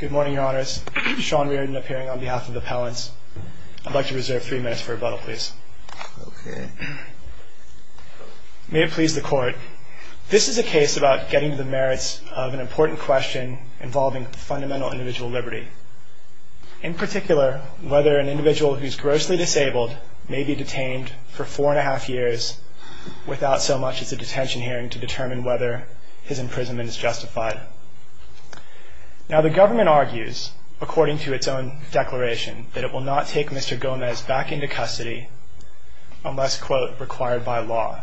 Good morning, your honors. Sean Reardon appearing on behalf of the appellants. I'd like to reserve three minutes for rebuttal, please. May it please the court. This is a case about getting to the merits of an important question involving fundamental individual liberty. In particular, whether an individual who is grossly disabled may be detained for four and a half years without so much as a detention hearing to determine whether his imprisonment is justified. Now the government argues, according to its own declaration, that it will not take Mr. Gomez back into custody unless, quote, required by law.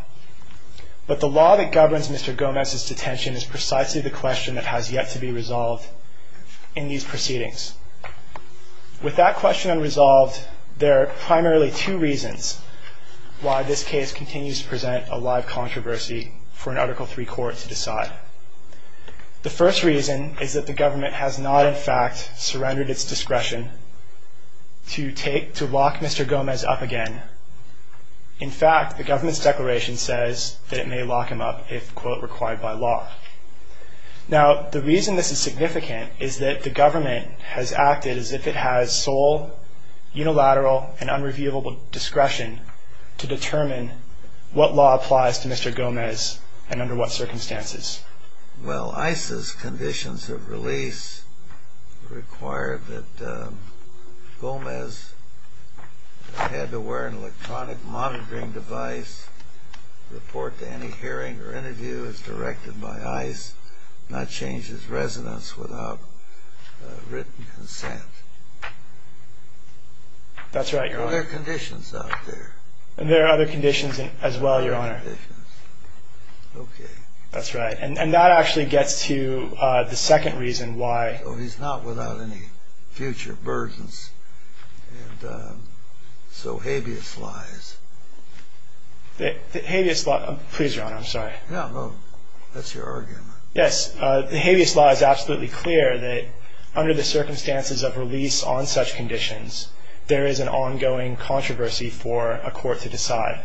But the law that governs Mr. Gomez's detention is precisely the question that has yet to be resolved in these proceedings. With that question unresolved, there are primarily two reasons why this case continues to present a live controversy for an Article III court to decide. The first reason is that the government has not, in fact, surrendered its discretion to lock Mr. Gomez up again. In fact, the government's declaration says that it may lock him up if, quote, required by law. Now, the reason this is significant is that the government has acted as if it has sole, unilateral, and unreviewable discretion to determine what law applies to Mr. Gomez and under what circumstances. Well, ICE's conditions of release require that Gomez had to wear an electronic monitoring device, report to any hearing or interview as directed by ICE, not change his residence without written consent. That's right, Your Honor. There are conditions out there. And there are other conditions as well, Your Honor. Okay. That's right. And that actually gets to the second reason why. So he's not without any future burdens. And so habeas lies. Habeas lies. Please, Your Honor, I'm sorry. No, no. That's your argument. Yes. The habeas law is absolutely clear that under the circumstances of release on such conditions, there is an ongoing controversy for a court to decide.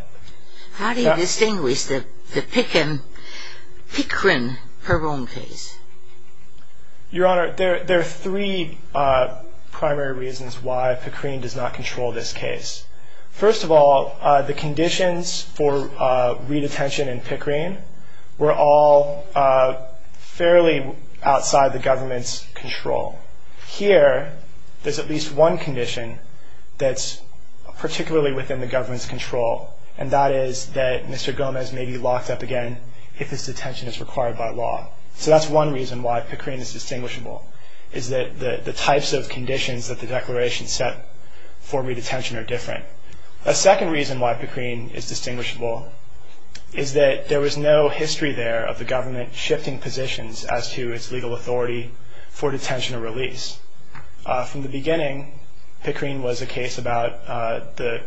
How do you distinguish the Pickren-Perron case? Your Honor, there are three primary reasons why Pickren does not control this case. First of all, the conditions for redetention in Pickren were all fairly outside the government's control. Here, there's at least one condition that's particularly within the government's control, and that is that Mr. Gomez may be locked up again if his detention is required by law. So that's one reason why Pickren is distinguishable, is that the types of conditions that the declaration set for redetention are different. A second reason why Pickren is distinguishable is that there was no history there of the government shifting positions as to its legal authority for detention or release. From the beginning, Pickren was a case about the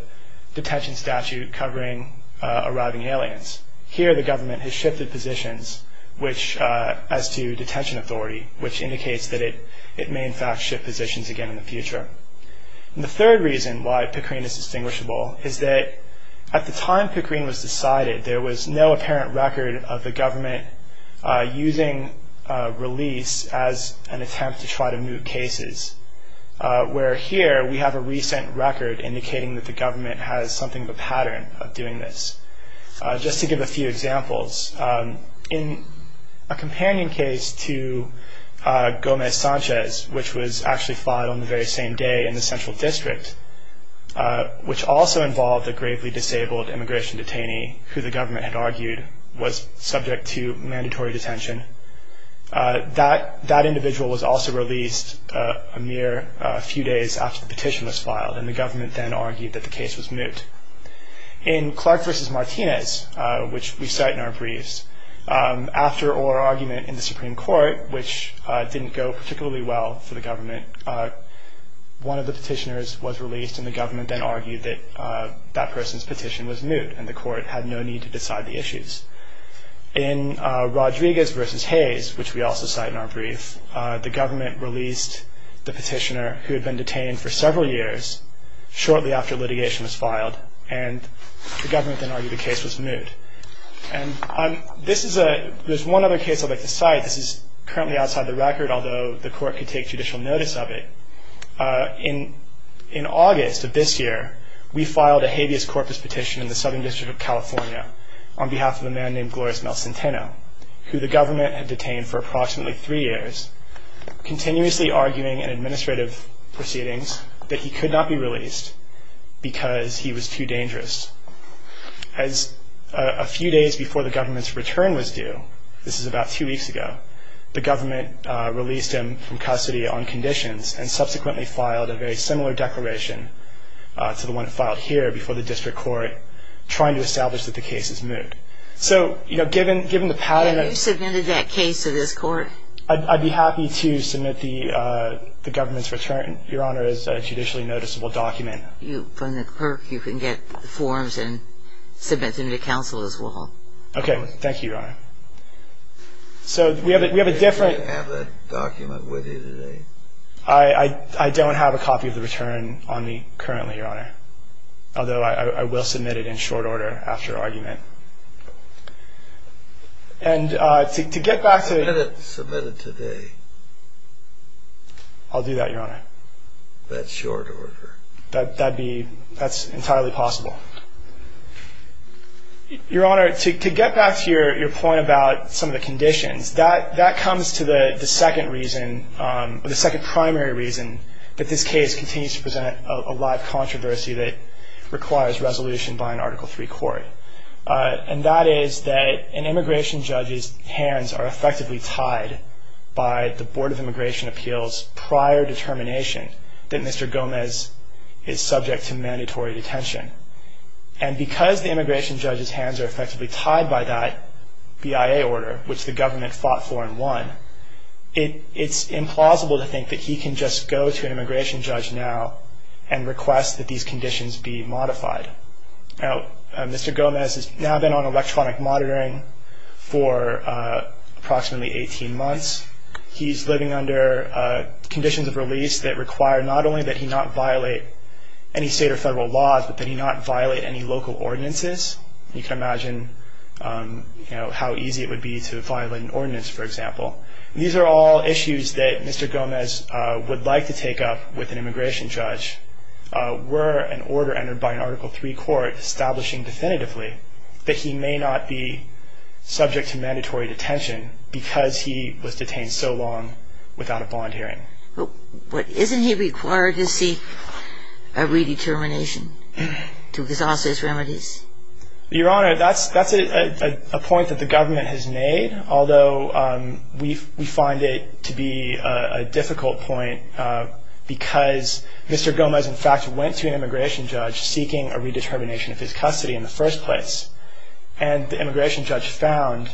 detention statute covering arriving aliens. Here, the government has shifted positions as to detention authority, which indicates that it may in fact shift positions again in the future. And the third reason why Pickren is distinguishable is that at the time Pickren was decided, there was no apparent record of the government using release as an attempt to try to moot cases, where here we have a recent record indicating that the government has something of a pattern of doing this. Just to give a few examples, in a companion case to Gomez-Sanchez, which was actually filed on the very same day in the Central District, which also involved a gravely disabled immigration detainee who the government had argued was subject to mandatory detention, that individual was also released a mere few days after the petition was filed, and the government then argued that the case was moot. In Clark v. Martinez, which we cite in our briefs, after our argument in the Supreme Court, which didn't go particularly well for the government, one of the petitioners was released and the government then argued that that person's petition was moot and the court had no need to decide the issues. In Rodriguez v. Hayes, which we also cite in our brief, the government released the petitioner, who had been detained for several years shortly after litigation was filed, and the government then argued the case was moot. There's one other case I'd like to cite. This is currently outside the record, although the court could take judicial notice of it. In August of this year, we filed a habeas corpus petition in the Southern District of California on behalf of a man named Glorios Melsenteno, who the government had detained for approximately three years, continuously arguing in administrative proceedings that he could not be released because he was too dangerous. As a few days before the government's return was due, this is about two weeks ago, the government released him from custody on conditions and subsequently filed a very similar declaration to the one filed here before the district court, trying to establish that the case is moot. So, you know, given the pattern... Have you submitted that case to this court? I'd be happy to submit the government's return, Your Honor, as a judicially noticeable document. From the clerk, you can get the forms and submit them to counsel as well. Okay. Thank you, Your Honor. So, we have a different... Do you have that document with you today? I don't have a copy of the return on me currently, Your Honor, although I will submit it in short order after argument. And to get back to... Submit it today. I'll do that, Your Honor. That's short order. That's entirely possible. Your Honor, to get back to your point about some of the conditions, that comes to the second primary reason that this case continues to present a lot of controversy that requires resolution by an Article III court. And that is that an immigration judge's hands are effectively tied by the Board of Immigration Appeals' prior determination that Mr. Gomez is subject to mandatory detention. And because the immigration judge's hands are effectively tied by that BIA order, which the government fought for and won, it's implausible to think that he can just go to an immigration judge now and request that these conditions be modified. Now, Mr. Gomez has now been on electronic monitoring for approximately 18 months. He's living under conditions of release that require not only that he not violate any state or federal laws, but that he not violate any local ordinances. You can imagine how easy it would be to violate an ordinance, for example. These are all issues that Mr. Gomez would like to take up with an immigration judge were an order entered by an Article III court establishing definitively that he may not be subject to mandatory detention because he was detained so long without a bond hearing. Isn't he required to seek a redetermination to exhaust his remedies? Your Honor, that's a point that the government has made, although we find it to be a difficult point because Mr. Gomez, in fact, went to an immigration judge seeking a redetermination of his custody in the first place. And the immigration judge found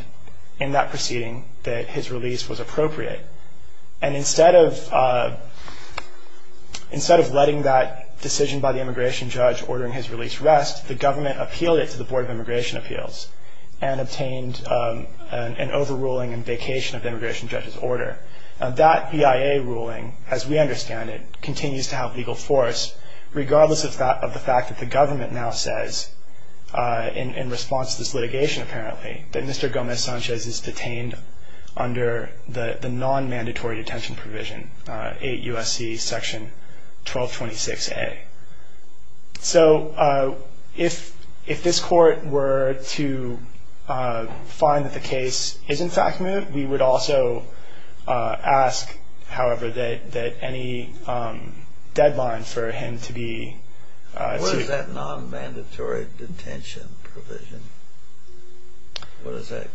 in that proceeding that his release was appropriate. And instead of letting that decision by the immigration judge ordering his release rest, the government appealed it to the Board of Immigration Appeals and obtained an overruling and vacation of the immigration judge's order. That BIA ruling, as we understand it, continues to have legal force, regardless of the fact that the government now says, in response to this litigation apparently, that Mr. Gomez Sanchez is detained under the non-mandatory detention provision, 8 U.S.C. section 1226A. So if this court were to find that the case is, in fact, moved, we would also ask, however, that any deadline for him to be sued. What is that non-mandatory detention provision? What does that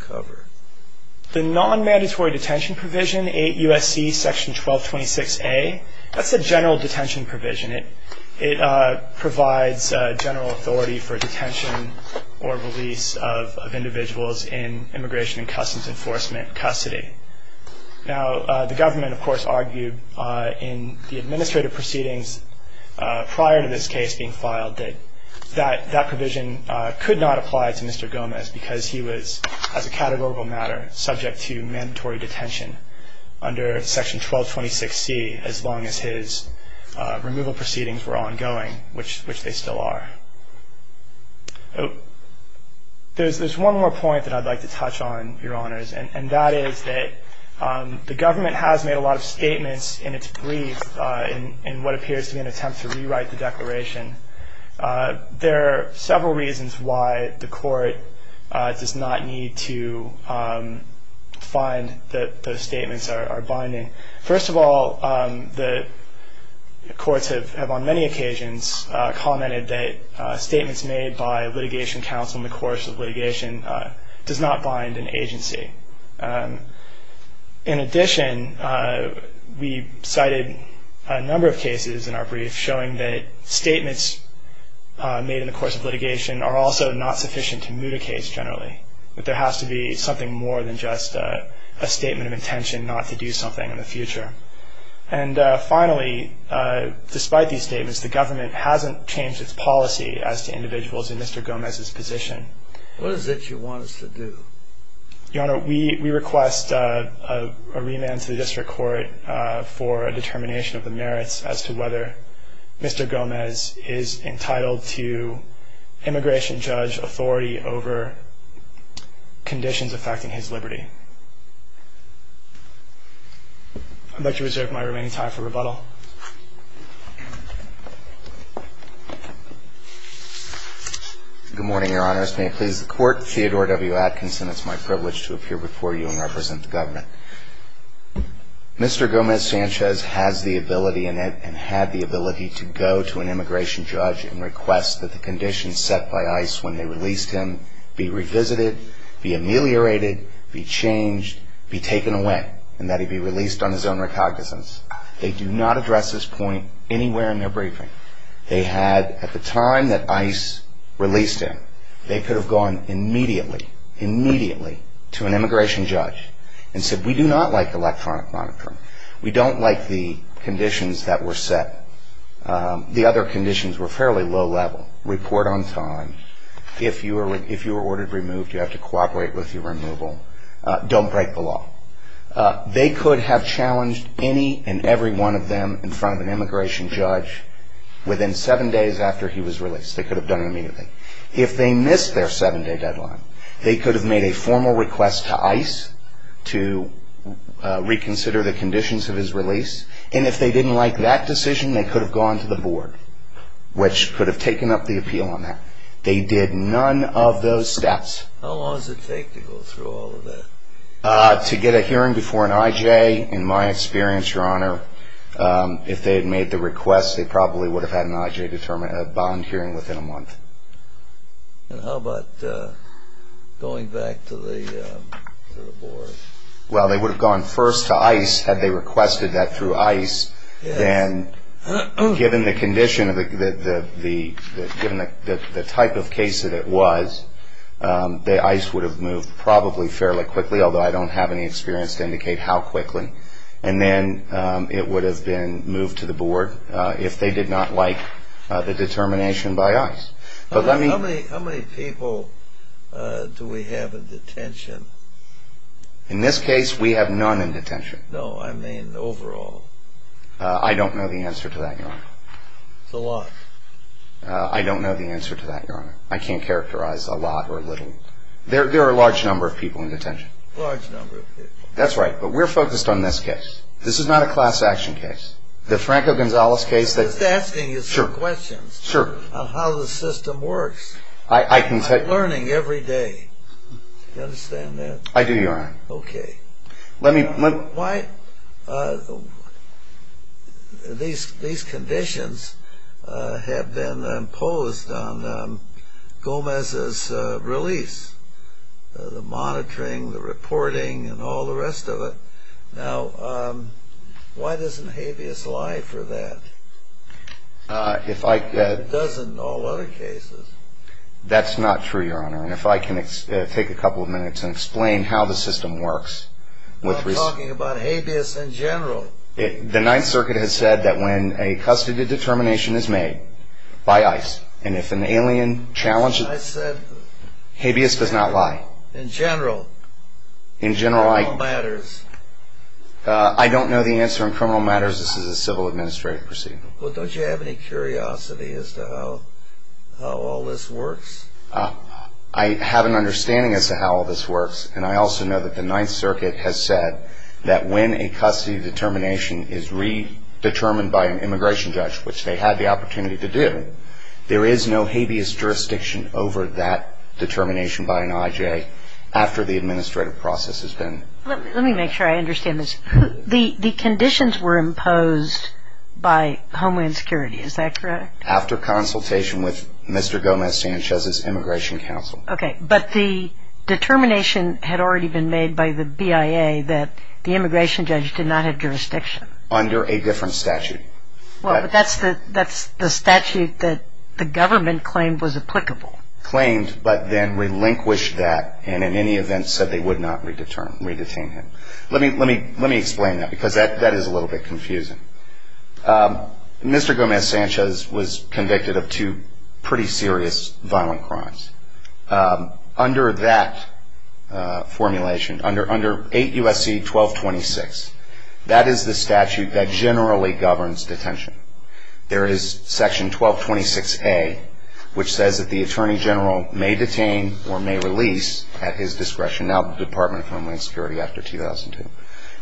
cover? The non-mandatory detention provision, 8 U.S.C. section 1226A, that's a general detention provision. It provides general authority for detention or release of individuals in Immigration and Customs Enforcement custody. Now, the government, of course, argued in the administrative proceedings prior to this case being filed that that provision could not apply to Mr. Gomez because he was, as a categorical matter, subject to mandatory detention under section 1226C as long as his removal proceedings were ongoing, which they still are. There's one more point that I'd like to touch on, Your Honors, and that is that the government has made a lot of statements in its brief in what appears to be an attempt to rewrite the declaration. There are several reasons why the court does not need to find that those statements are binding. First of all, the courts have on many occasions commented that statements made by litigation counsel in the course of litigation does not bind an agency. In addition, we cited a number of cases in our brief showing that statements made in the course of litigation are also not sufficient to moot a case generally, that there has to be something more than just a statement of intention not to do something in the future. And finally, despite these statements, the government hasn't changed its policy as to individuals in Mr. Gomez's position. What is it you want us to do? Your Honor, we request a remand to the district court for a determination of the merits as to whether Mr. Gomez is entitled to immigration judge authority over conditions affecting his liberty. I'd like to reserve my remaining time for rebuttal. Good morning, Your Honors. May it please the Court, Theodore W. Atkinson, it's my privilege to appear before you and represent the government. Mr. Gomez Sanchez has the ability and had the ability to go to an immigration judge and request that the conditions set by ICE when they released him be revisited, be ameliorated, be changed, be taken away, and that he be released on his own recognizance. They do not address this point anywhere in their briefing. They had, at the time that ICE released him, they could have gone immediately, immediately, to an immigration judge and said, we do not like electronic monitoring. We don't like the conditions that were set. The other conditions were fairly low-level. Report on time. If you were ordered removed, you have to cooperate with your removal. Don't break the law. They could have challenged any and every one of them in front of an immigration judge within seven days after he was released. They could have done it immediately. If they missed their seven-day deadline, they could have made a formal request to ICE to reconsider the conditions of his release. And if they didn't like that decision, they could have gone to the board, which could have taken up the appeal on that. They did none of those steps. How long does it take to go through all of that? To get a hearing before an IJ, in my experience, Your Honor, if they had made the request, they probably would have had an IJ bond hearing within a month. And how about going back to the board? Well, they would have gone first to ICE had they requested that through ICE. Then, given the condition, given the type of case that it was, the ICE would have moved probably fairly quickly, although I don't have any experience to indicate how quickly. And then it would have been moved to the board if they did not like the determination by ICE. How many people do we have in detention? In this case, we have none in detention. No, I mean overall. I don't know the answer to that, Your Honor. It's a lot. I don't know the answer to that, Your Honor. I can't characterize a lot or a little. There are a large number of people in detention. Large number of people. That's right. But we're focused on this case. This is not a class action case. The Franco-Gonzalez case. I'm just asking you some questions. Sure. On how the system works. I can tell you. I'm learning every day. Do you understand that? I do, Your Honor. Okay. These conditions have been imposed on Gomez's release. The monitoring, the reporting, and all the rest of it. Now, why doesn't Habeas lie for that? It does in all other cases. That's not true, Your Honor. If I can take a couple of minutes and explain how the system works. I'm talking about Habeas in general. The Ninth Circuit has said that when a custody determination is made by ICE, and if an alien challenges it, Habeas does not lie. In general. In general. Criminal matters. I don't know the answer in criminal matters. This is a civil administrative procedure. Well, don't you have any curiosity as to how all this works? I have an understanding as to how all this works, and I also know that the Ninth Circuit has said that when a custody determination is redetermined by an immigration judge, which they had the opportunity to do, there is no Habeas jurisdiction over that determination by an I.J. after the administrative process has been. Let me make sure I understand this. The conditions were imposed by Homeland Security. Is that correct? After consultation with Mr. Gomez-Sanchez's Immigration Council. Okay. But the determination had already been made by the BIA that the immigration judge did not have jurisdiction. Under a different statute. Well, but that's the statute that the government claimed was applicable. Claimed, but then relinquished that, and in any event said they would not redetain him. Let me explain that, because that is a little bit confusing. Mr. Gomez-Sanchez was convicted of two pretty serious violent crimes. Under that formulation, under 8 U.S.C. 1226, that is the statute that generally governs detention. There is section 1226A, which says that the attorney general may detain or may release at his discretion, now the Department of Homeland Security after 2002.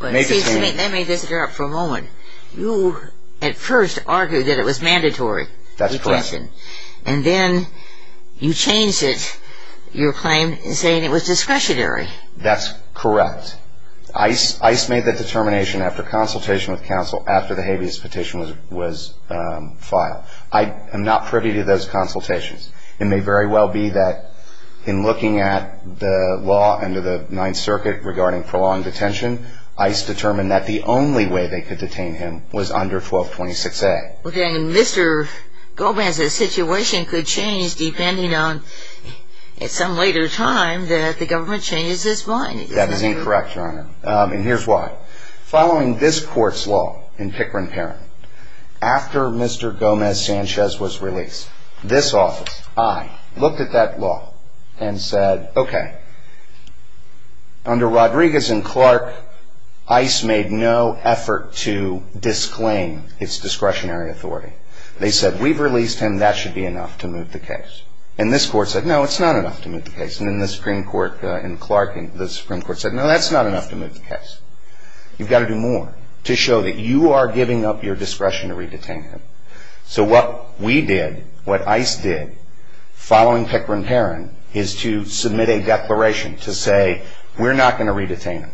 Let me interrupt for a moment. You at first argued that it was mandatory detention. That's correct. And then you changed it, your claim, saying it was discretionary. That's correct. ICE made that determination after consultation with counsel after the Habeas petition was filed. I am not privy to those consultations. It may very well be that in looking at the law under the Ninth Circuit regarding prolonged detention, ICE determined that the only way they could detain him was under 1226A. Well, then Mr. Gomez's situation could change depending on, at some later time, that the government changes its mind. That is incorrect, Your Honor, and here's why. Following this court's law in Pickering-Perrin, after Mr. Gomez-Sanchez was released, this office, I, looked at that law and said, okay, under Rodriguez and Clark, ICE made no effort to disclaim its discretionary authority. They said, we've released him. That should be enough to move the case. And this court said, no, it's not enough to move the case. And then the Supreme Court in Clark, the Supreme Court said, no, that's not enough to move the case. You've got to do more to show that you are giving up your discretion to re-detain him. So what we did, what ICE did, following Pickering-Perrin, is to submit a declaration to say, we're not going to re-detain him.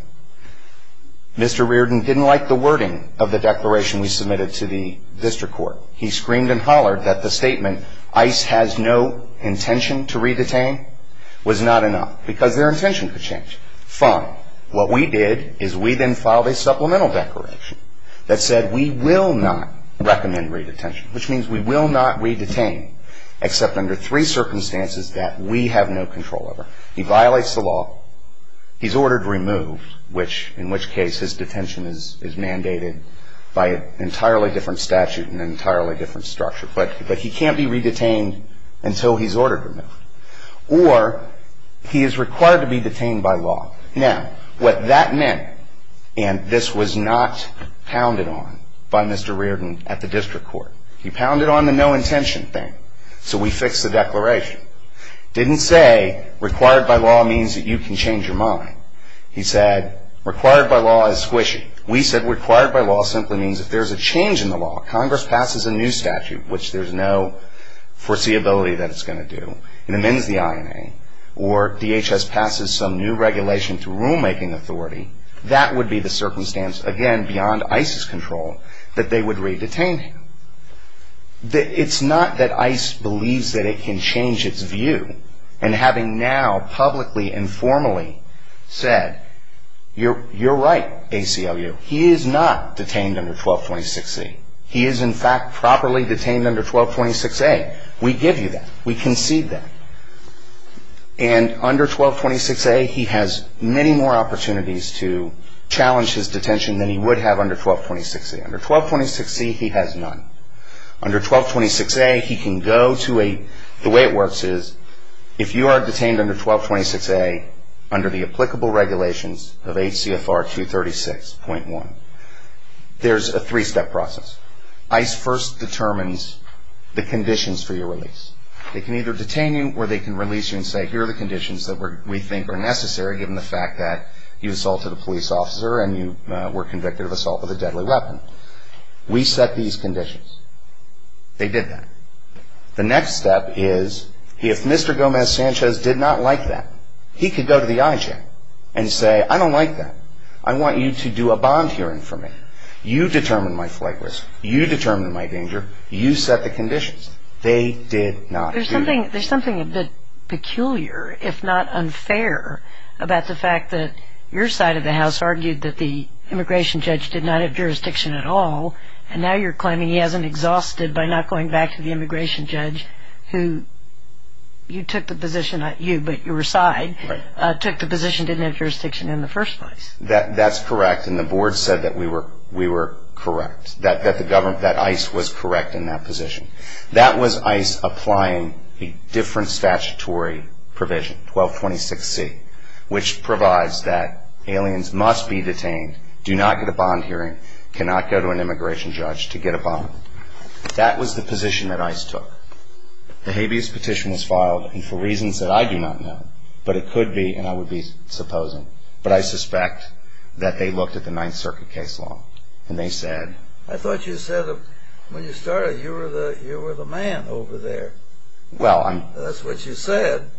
Mr. Reardon didn't like the wording of the declaration we submitted to the district court. He screamed and hollered that the statement, ICE has no intention to re-detain, was not enough because their intention could change. Fine. What we did is we then filed a supplemental declaration that said, we will not recommend re-detention, which means we will not re-detain except under three circumstances that we have no control over. He violates the law. He's ordered removed, which, in which case, his detention is mandated by an entirely different statute and an entirely different structure. But he can't be re-detained until he's ordered removed. Or he is required to be detained by law. Now, what that meant, and this was not pounded on by Mr. Reardon at the district court. He pounded on the no intention thing. So we fixed the declaration. Didn't say required by law means that you can change your mind. He said, required by law is squishy. We said required by law simply means if there's a change in the law, Congress passes a new statute, which there's no foreseeability that it's going to do, and amends the INA, or DHS passes some new regulation to rulemaking authority, that would be the circumstance, again, beyond ICE's control, that they would re-detain him. It's not that ICE believes that it can change its view. And having now publicly and formally said, you're right, ACLU, he is not detained under 1226C. He is, in fact, properly detained under 1226A. We give you that. We concede that. And under 1226A, he has many more opportunities to challenge his detention than he would have under 1226A. Under 1226C, he has none. Under 1226A, he can go to a – the way it works is if you are detained under 1226A, under the applicable regulations of HCFR 236.1, there's a three-step process. ICE first determines the conditions for your release. They can either detain you or they can release you and say, here are the conditions that we think are necessary given the fact that you assaulted a police officer and you were convicted of assault with a deadly weapon. We set these conditions. They did that. The next step is if Mr. Gomez-Sanchez did not like that, he could go to the IJ and say, I don't like that. I want you to do a bond hearing for me. You determine my flight risk. You determine my danger. You set the conditions. They did not do that. There's something a bit peculiar, if not unfair, about the fact that your side of the House argued that the immigration judge did not have jurisdiction at all, and now you're claiming he hasn't exhausted by not going back to the immigration judge who you took the position – not you, but your side took the position didn't have jurisdiction in the first place. That's correct, and the board said that we were correct, that ICE was correct in that position. That was ICE applying a different statutory provision, 1226C, which provides that aliens must be detained, do not get a bond hearing, cannot go to an immigration judge to get a bond. That was the position that ICE took. The habeas petition was filed, and for reasons that I do not know, but it could be, and I would be supposing, but I suspect that they looked at the Ninth Circuit case law, and they said – I thought you said when you started, you were the man over there. Well, I'm – That's what you said.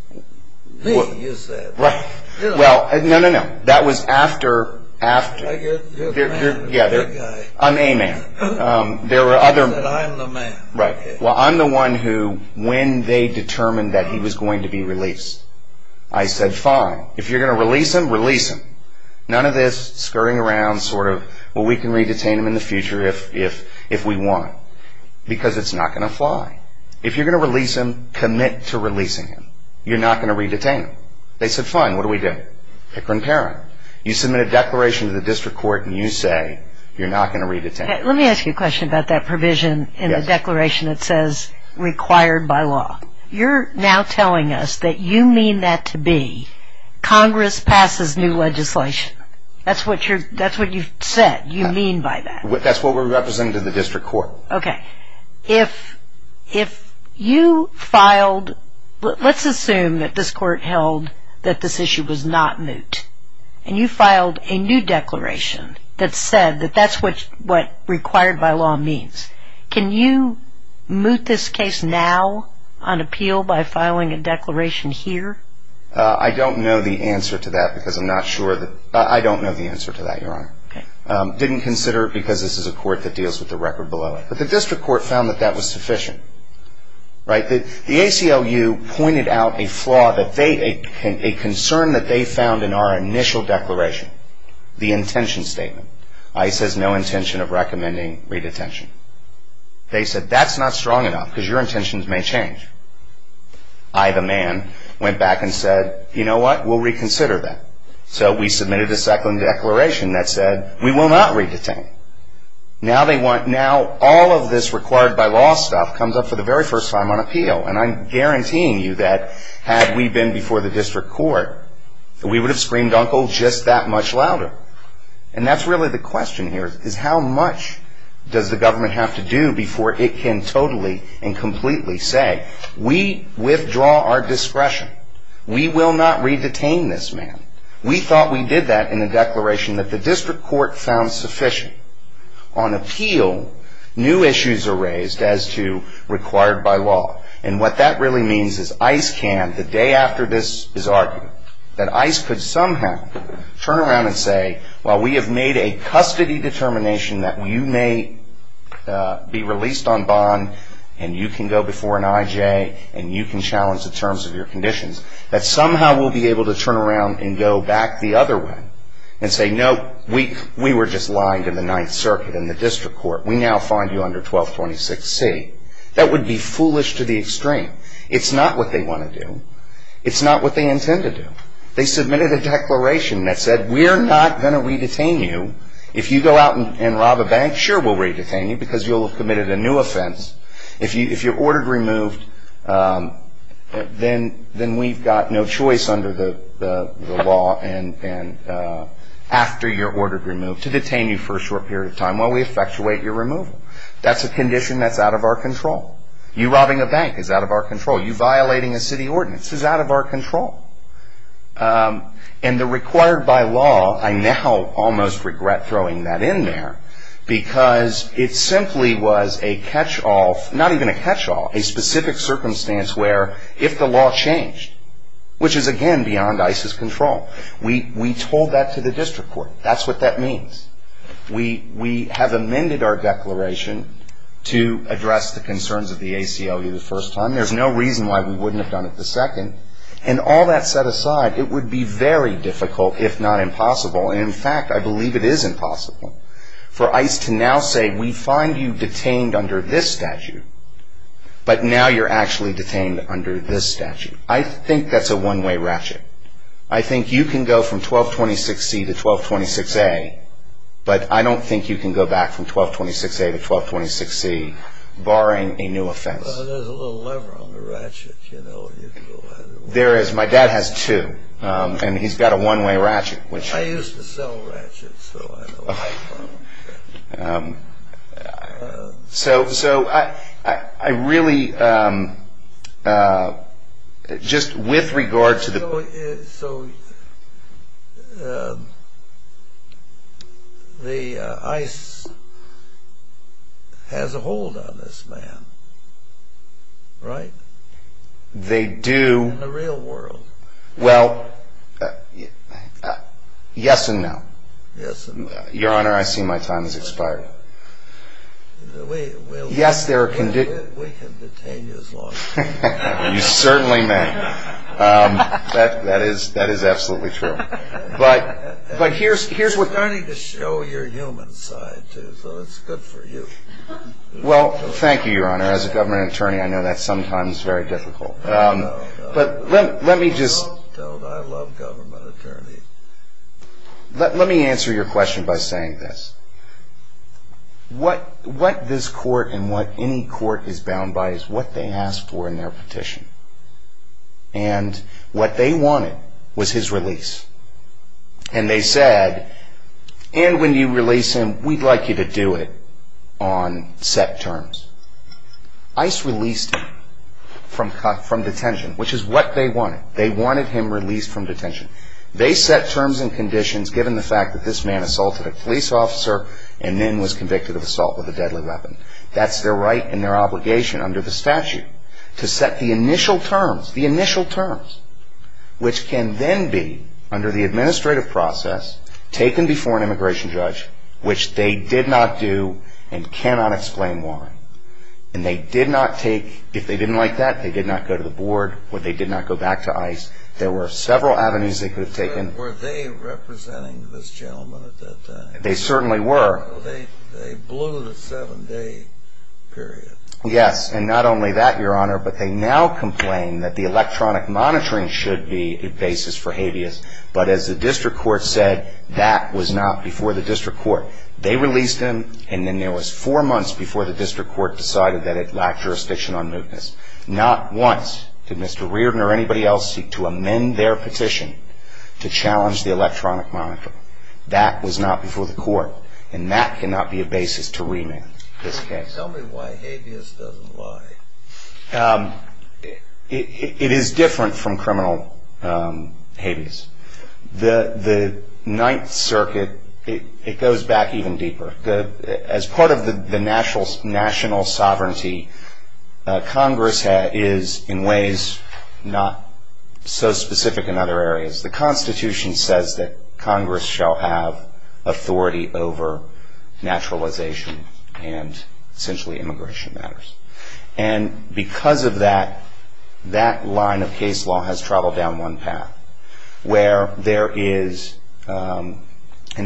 Me, you said. Right. Well, no, no, no. That was after – You're the man. I'm a man. There were other – You said, I'm the man. Right. Well, I'm the one who, when they determined that he was going to be released, I said, fine. If you're going to release him, release him. None of this scurrying around sort of, well, we can re-detain him in the future if we want, because it's not going to fly. If you're going to release him, commit to releasing him. You're not going to re-detain him. They said, fine, what do we do? Picker and parent. You submit a declaration to the district court, and you say you're not going to re-detain him. Let me ask you a question about that provision in the declaration that says required by law. You're now telling us that you mean that to be Congress passes new legislation. That's what you've said. You mean by that. That's what we're representing to the district court. Okay. If you filed – let's assume that this court held that this issue was not moot, and you filed a new declaration that said that that's what required by law means, can you moot this case now on appeal by filing a declaration here? I don't know the answer to that because I'm not sure that – I don't know the answer to that, Your Honor. Okay. Didn't consider it because this is a court that deals with the record below it. But the district court found that that was sufficient, right? The ACLU pointed out a flaw that they – a concern that they found in our initial declaration, the intention statement. ICE has no intention of recommending re-detention. They said that's not strong enough because your intentions may change. I, the man, went back and said, you know what, we'll reconsider that. So we submitted a second declaration that said we will not re-detain. Now they want – now all of this required by law stuff comes up for the very first time on appeal. And I'm guaranteeing you that had we been before the district court, we would have screamed uncle just that much louder. And that's really the question here is how much does the government have to do before it can totally and completely say, we withdraw our discretion, we will not re-detain this man. We thought we did that in the declaration that the district court found sufficient. On appeal, new issues are raised as to required by law. And what that really means is ICE can, the day after this is argued, that ICE could somehow turn around and say, well, we have made a custody determination that you may be released on bond and you can go before an IJ and you can challenge the terms of your conditions. That somehow we'll be able to turn around and go back the other way and say, no, we were just lying to the Ninth Circuit and the district court. We now find you under 1226C. That would be foolish to the extreme. It's not what they want to do. It's not what they intend to do. They submitted a declaration that said we're not going to re-detain you. If you go out and rob a bank, sure we'll re-detain you because you'll have committed a new offense. If you're ordered removed, then we've got no choice under the law after you're ordered removed to detain you for a short period of time while we effectuate your removal. That's a condition that's out of our control. You robbing a bank is out of our control. You violating a city ordinance is out of our control. And the required by law, I now almost regret throwing that in there because it simply was a catch-all, not even a catch-all, a specific circumstance where if the law changed, which is again beyond ICE's control, we told that to the district court. That's what that means. We have amended our declaration to address the concerns of the ACLU the first time. There's no reason why we wouldn't have done it the second. And all that set aside, it would be very difficult if not impossible. And in fact, I believe it is impossible for ICE to now say, we find you detained under this statute, but now you're actually detained under this statute. I think that's a one-way ratchet. I think you can go from 1226C to 1226A, but I don't think you can go back from 1226A to 1226C, barring a new offense. Well, there's a little lever on the ratchet, you know. There is. My dad has two, and he's got a one-way ratchet. I used to sell ratchets, so I know where I come from. So I really, just with regard to the... So the ICE has a hold on this man, right? They do. In the real world. Well, yes and no. Yes and no. Your Honor, I see my time has expired. We can detain you as long as you want. You certainly may. That is absolutely true. But here's what... We're starting to show your human side, too, so it's good for you. Well, thank you, Your Honor. As a government attorney, I know that's sometimes very difficult. But let me just... Don't I love government attorneys. Let me answer your question by saying this. What this court and what any court is bound by is what they asked for in their petition. And what they wanted was his release. And they said, and when you release him, we'd like you to do it on set terms. ICE released him from detention, which is what they wanted. They wanted him released from detention. They set terms and conditions given the fact that this man assaulted a police officer and then was convicted of assault with a deadly weapon. That's their right and their obligation under the statute to set the initial terms, the initial terms, which can then be, under the administrative process, taken before an immigration judge, which they did not do and cannot explain why. And they did not take... If they didn't like that, they did not go to the board. They did not go back to ICE. There were several avenues they could have taken. Were they representing this gentleman at that time? They certainly were. They blew the seven-day period. Yes, and not only that, Your Honor, but they now complain that the electronic monitoring should be a basis for habeas. But as the district court said, that was not before the district court. They released him, and then there was four months before the district court decided that it lacked jurisdiction on mootness. Not once did Mr. Reardon or anybody else seek to amend their petition to challenge the electronic monitor. That was not before the court, and that cannot be a basis to remand this case. Tell me why habeas doesn't lie. It is different from criminal habeas. The Ninth Circuit, it goes back even deeper. As part of the national sovereignty, Congress is, in ways, not so specific in other areas. The Constitution says that Congress shall have authority over naturalization and, essentially, immigration matters. And because of that, that line of case law has traveled down one path, where there is, and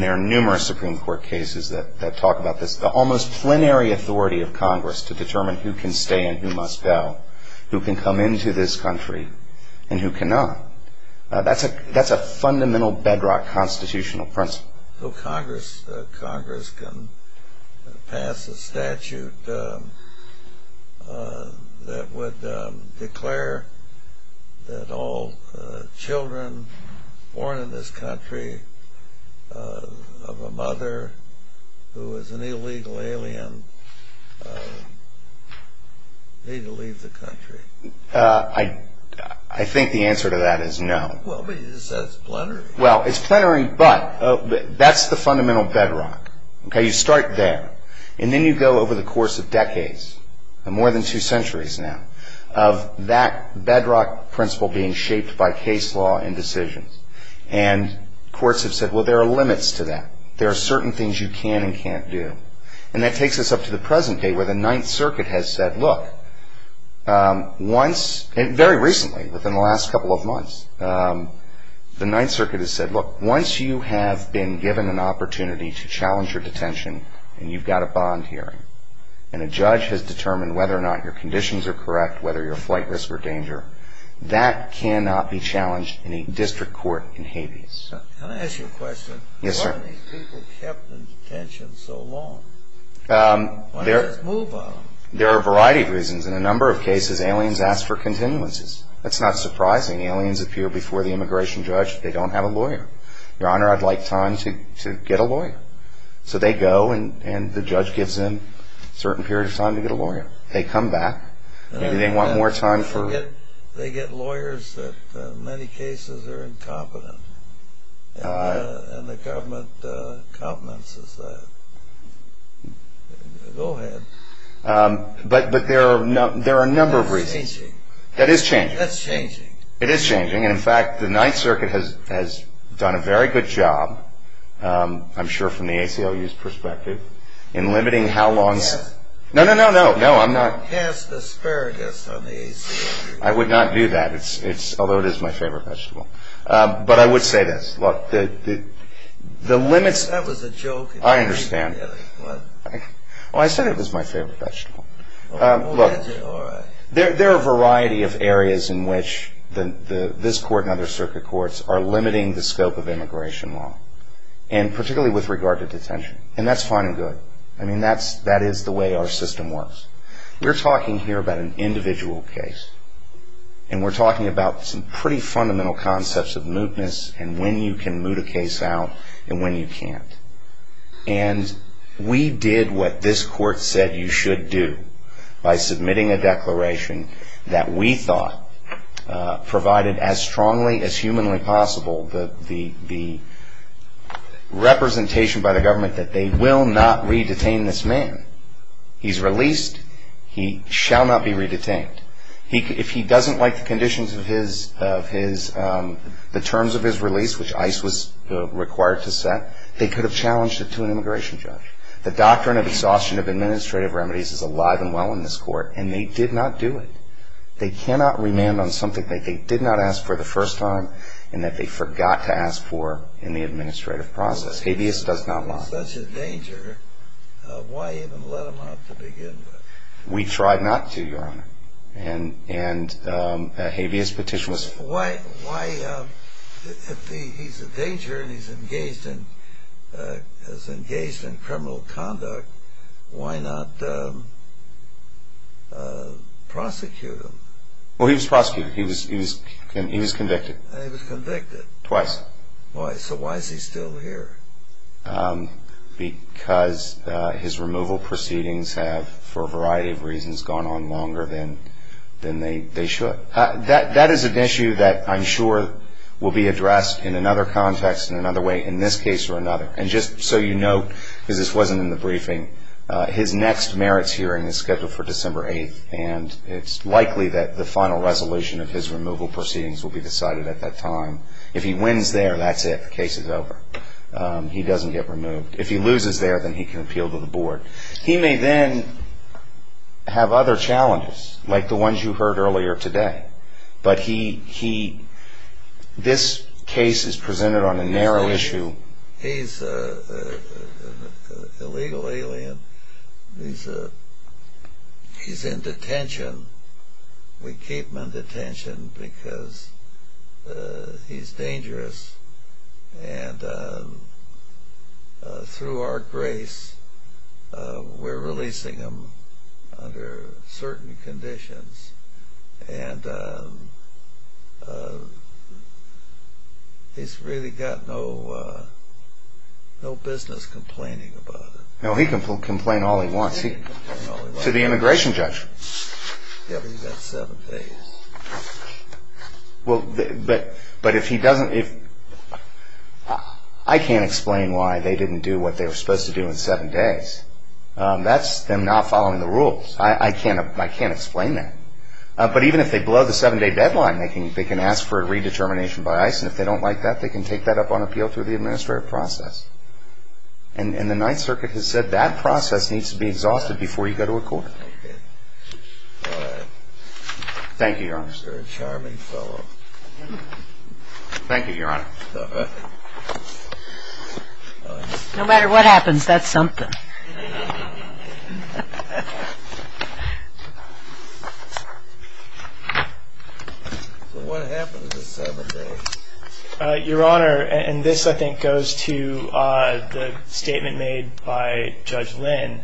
there are numerous Supreme Court cases that talk about this, the almost plenary authority of Congress to determine who can stay and who must go, who can come into this country and who cannot. That's a fundamental bedrock constitutional principle. So Congress can pass a statute that would declare that all children born in this country of a mother who is an illegal alien need to leave the country. I think the answer to that is no. Well, it's plenary, but that's the fundamental bedrock. You start there, and then you go over the course of decades, more than two centuries now, of that bedrock principle being shaped by case law and decisions. And courts have said, well, there are limits to that. There are certain things you can and can't do. And that takes us up to the present day, where the Ninth Circuit has said, look, once, very recently, within the last couple of months, the Ninth Circuit has said, look, once you have been given an opportunity to challenge your detention and you've got a bond hearing and a judge has determined whether or not your conditions are correct, whether you're flight risk or danger, that cannot be challenged in a district court in Hades. Can I ask you a question? Yes, sir. Why are these people kept in detention so long? When does this move on? There are a variety of reasons. In a number of cases, aliens ask for continuances. That's not surprising. Aliens appear before the immigration judge. They don't have a lawyer. Your Honor, I'd like time to get a lawyer. So they go, and the judge gives them a certain period of time to get a lawyer. They come back. Maybe they want more time for it. They get lawyers that in many cases are incompetent, and the government complements us. Go ahead. But there are a number of reasons. That's changing. That is changing. That's changing. It is changing. And, in fact, the Ninth Circuit has done a very good job, I'm sure from the ACLU's perspective, in limiting how long. Yes. No, no, no, no. No, I'm not. Cast asparagus on the ACLU. I would not do that, although it is my favorite vegetable. But I would say this. Look, the limits. That was a joke. I understand. Well, I said it was my favorite vegetable. Look, there are a variety of areas in which this court and other circuit courts are limiting the scope of immigration law, and particularly with regard to detention. And that's fine and good. I mean, that is the way our system works. We're talking here about an individual case, and we're talking about some pretty fundamental concepts of mootness and when you can moot a case out and when you can't. And we did what this court said you should do by submitting a declaration that we thought provided as strongly as humanly possible the representation by the government that they will not re-detain this man. He's released. He shall not be re-detained. If he doesn't like the terms of his release, which ICE was required to set, they could have challenged it to an immigration judge. The doctrine of exhaustion of administrative remedies is alive and well in this court, and they did not do it. They cannot remand on something that they did not ask for the first time and that they forgot to ask for in the administrative process. Habeas does not lie. If he's such a danger, why even let him out to begin with? We tried not to, Your Honor. And a habeas petition was... Why, if he's a danger and he's engaged in criminal conduct, why not prosecute him? Well, he was prosecuted. He was convicted. He was convicted. Twice. So why is he still here? Because his removal proceedings have, for a variety of reasons, gone on longer than they should. That is an issue that I'm sure will be addressed in another context in another way in this case or another. And just so you know, because this wasn't in the briefing, his next merits hearing is scheduled for December 8th, and it's likely that the final resolution of his removal proceedings will be decided at that time. If he wins there, that's it. The case is over. He doesn't get removed. If he loses there, then he can appeal to the board. He may then have other challenges, like the ones you heard earlier today. But he... This case is presented on a narrow issue. He's an illegal alien. He's in detention. We keep him in detention because he's dangerous. And through our grace, we're releasing him under certain conditions. And he's really got no business complaining about it. No, he can complain all he wants. He can complain all he wants. To the immigration judge. Yeah, but he's got seven days. Well, but if he doesn't... I can't explain why they didn't do what they were supposed to do in seven days. That's them not following the rules. I can't explain that. But even if they blow the seven-day deadline, they can ask for a redetermination by ICE, and if they don't like that, they can take that up on appeal through the administrative process. And the Ninth Circuit has said that process needs to be exhausted before you go to a court. All right. Thank you, Your Honor. You're a charming fellow. Thank you, Your Honor. No matter what happens, that's something. So what happened to the seven days? Your Honor, and this I think goes to the statement made by Judge Lynn,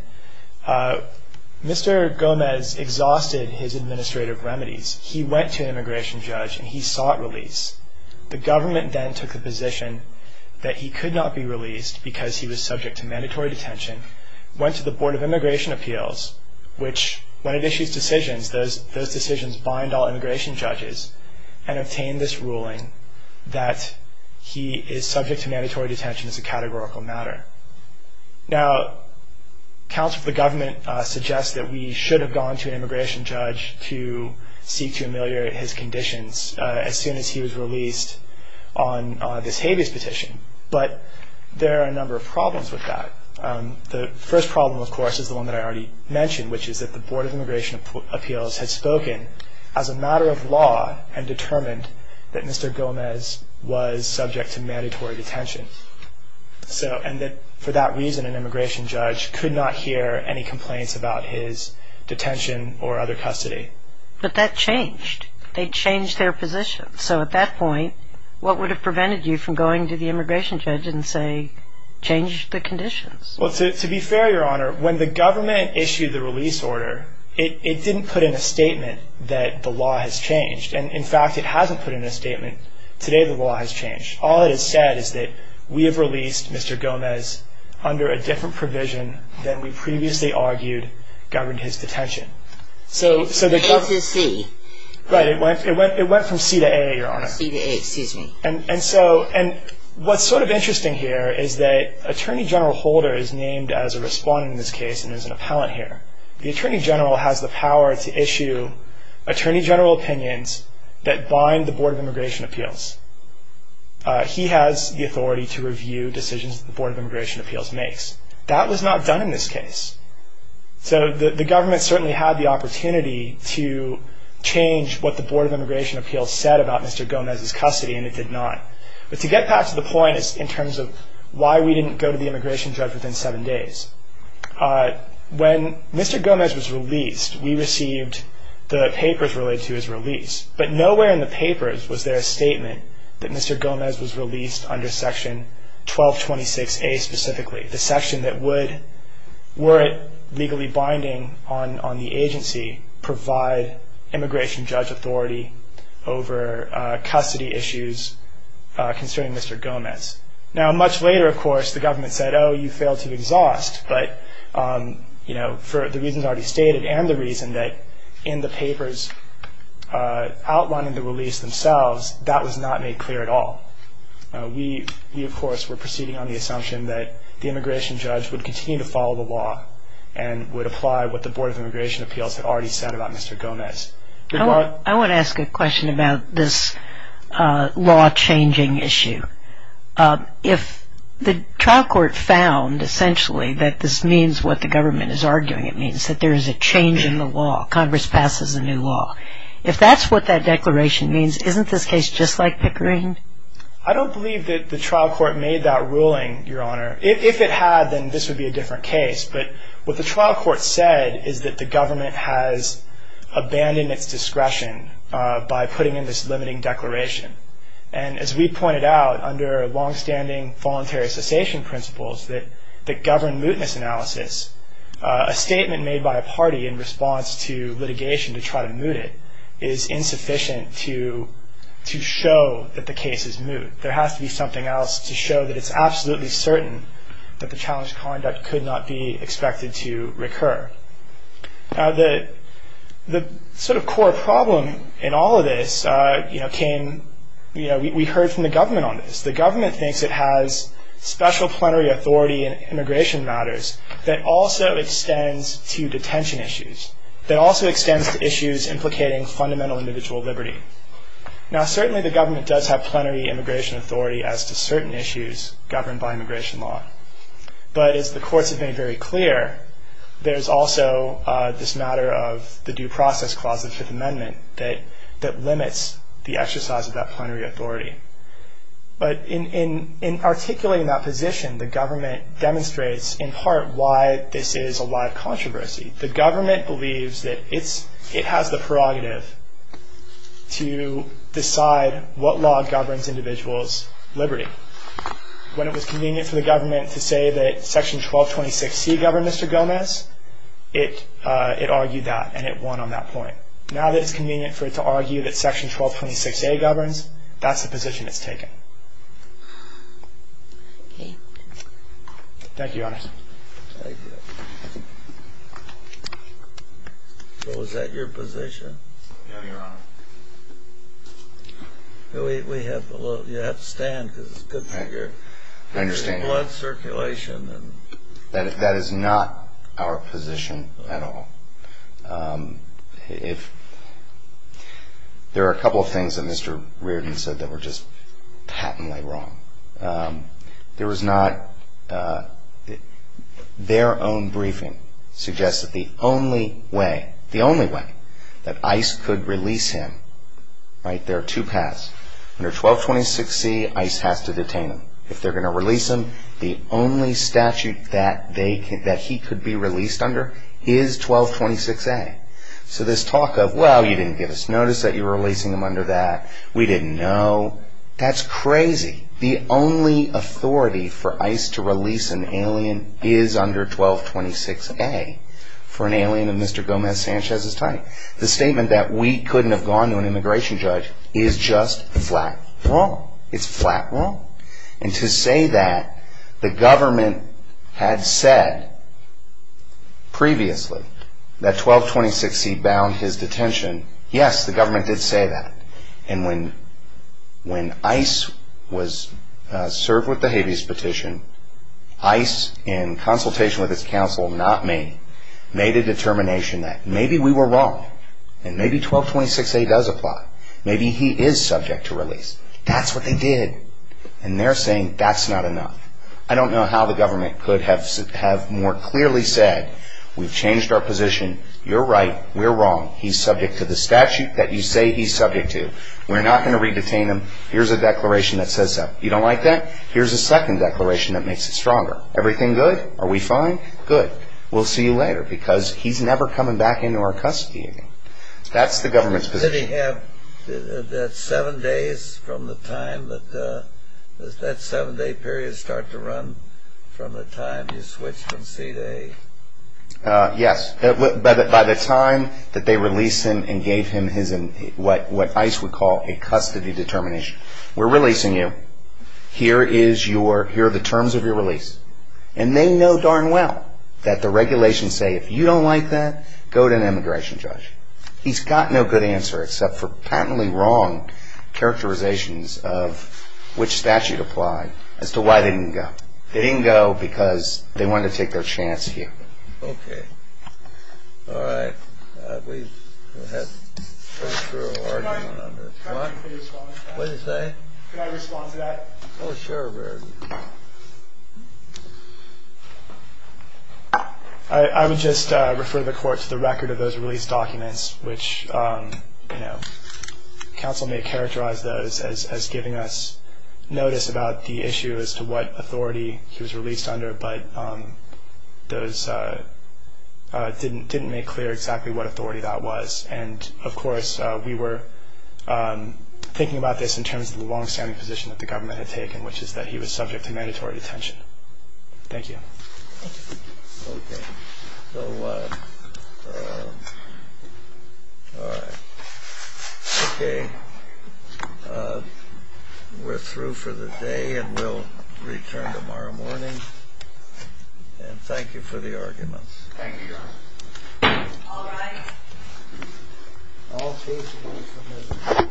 Mr. Gomez exhausted his administrative remedies. He went to an immigration judge and he sought release. The government then took the position that he could not be released because he was subject to mandatory detention, went to the Board of Immigration Appeals, which when it issues decisions, those decisions bind all immigration judges, and obtain this ruling that he is subject to mandatory detention as a categorical matter. Now, counsel for the government suggests that we should have gone to an immigration judge to seek to ameliorate his conditions as soon as he was released on this habeas petition, but there are a number of problems with that. The first problem, of course, is the one that I already mentioned, which is that the Board of Immigration Appeals had spoken as a matter of law and determined that Mr. Gomez was subject to mandatory detention, and that for that reason an immigration judge could not hear any complaints about his detention or other custody. But that changed. They changed their position. So at that point, what would have prevented you from going to the immigration judge and say, change the conditions? Well, to be fair, Your Honor, when the government issued the release order, it didn't put in a statement that the law has changed. And in fact, it hasn't put in a statement, today the law has changed. All it has said is that we have released Mr. Gomez under a different provision than we previously argued governed his detention. So the government... It went through C. Right, it went from C to A, Your Honor. C to A, excuse me. And so what's sort of interesting here is that Attorney General Holder is named as a respondent in this case and is an appellant here. The Attorney General has the power to issue Attorney General opinions that bind the Board of Immigration Appeals. He has the authority to review decisions that the Board of Immigration Appeals makes. That was not done in this case. So the government certainly had the opportunity to change what the Board of Immigration Appeals said about Mr. Gomez's custody, and it did not. But to get back to the point in terms of why we didn't go to the immigration judge within seven days, when Mr. Gomez was released, we received the papers related to his release. But nowhere in the papers was there a statement that Mr. Gomez was released under Section 1226A specifically, the section that would, were it legally binding on the agency, provide immigration judge authority over custody issues concerning Mr. Gomez. Now, much later, of course, the government said, oh, you failed to exhaust, but for the reasons already stated and the reason that in the papers outlining the release themselves, that was not made clear at all. We, of course, were proceeding on the assumption that the immigration judge would continue to follow the law and would apply what the Board of Immigration Appeals had already said about Mr. Gomez. I want to ask a question about this law-changing issue. If the trial court found, essentially, that this means what the government is arguing it means, that there is a change in the law, Congress passes a new law, if that's what that declaration means, isn't this case just like Pickering? I don't believe that the trial court made that ruling, Your Honor. If it had, then this would be a different case. But what the trial court said is that the government has abandoned its discretion by putting in this limiting declaration. And as we pointed out, under longstanding voluntary cessation principles that govern mootness analysis, a statement made by a party in response to litigation to try to moot it is insufficient to show that the case is moot. There has to be something else to show that it's absolutely certain that the challenged conduct could not be expected to recur. Now, the sort of core problem in all of this came, you know, we heard from the government on this. The government thinks it has special plenary authority in immigration matters that also extends to detention issues, that also extends to issues implicating fundamental individual liberty. Now, certainly the government does have plenary immigration authority as to certain issues governed by immigration law. But as the courts have made very clear, there's also this matter of the Due Process Clause of the Fifth Amendment that limits the exercise of that plenary authority. But in articulating that position, the government demonstrates in part why this is a live controversy. The government believes that it has the prerogative to decide what law governs individuals' liberty. When it was convenient for the government to say that Section 1226C governed Mr. Gomez, it argued that, and it won on that point. Now that it's convenient for it to argue that Section 1226A governs, that's the position it's taken. Thank you, Your Honor. Thank you. So is that your position? Yes, Your Honor. You have to stand because it's good for your blood circulation. That is not our position at all. There are a couple of things that Mr. Reardon said that were just patently wrong. Their own briefing suggests that the only way that ICE could release him, right, there are two paths. Under 1226C, ICE has to detain him. If they're going to release him, the only statute that he could be released under is 1226A. So this talk of, well, you didn't give us notice that you were releasing him under that, we didn't know, that's crazy. The only authority for ICE to release an alien is under 1226A for an alien in Mr. Gomez Sanchez's time. The statement that we couldn't have gone to an immigration judge is just flat wrong. It's flat wrong. And to say that the government had said previously that 1226C bound his detention, yes, the government did say that. And when ICE was served with the habeas petition, ICE, in consultation with its counsel, not me, made a determination that maybe we were wrong and maybe 1226A does apply. Maybe he is subject to release. That's what they did. And they're saying that's not enough. I don't know how the government could have more clearly said, we've changed our position, you're right, we're wrong, he's subject to the statute that you say he's subject to. We're not going to re-detain him. Here's a declaration that says so. You don't like that? Here's a second declaration that makes it stronger. Everything good? Are we fine? Good. We'll see you later. Because he's never coming back into our custody again. That's the government's position. Does the custody have that seven days from the time that, does that seven day period start to run from the time you switch from seat A? Yes. By the time that they release him and gave him his, what ICE would call a custody determination. We're releasing you. Here is your, here are the terms of your release. And they know darn well that the regulations say if you don't like that, go to an immigration judge. He's got no good answer except for patently wrong characterizations of which statute applied as to why they didn't go. They didn't go because they wanted to take their chance here. Okay. All right. Please go ahead. What did he say? Can I respond to that? Oh, sure. I would just refer the court to the record of those release documents, which counsel may characterize those as giving us notice about the issue as to what authority he was released under, but those didn't make clear exactly what authority that was. And, of course, we were thinking about this in terms of the longstanding position that the government had taken, which is that he was subject to mandatory detention. Thank you. Okay. So, all right. Okay. We're through for the day and we'll return tomorrow morning. And thank you for the arguments. Thank you, Your Honor. All rise. All cases are submitted.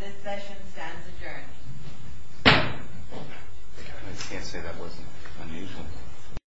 This session stands adjourned. I can't say that wasn't unusual.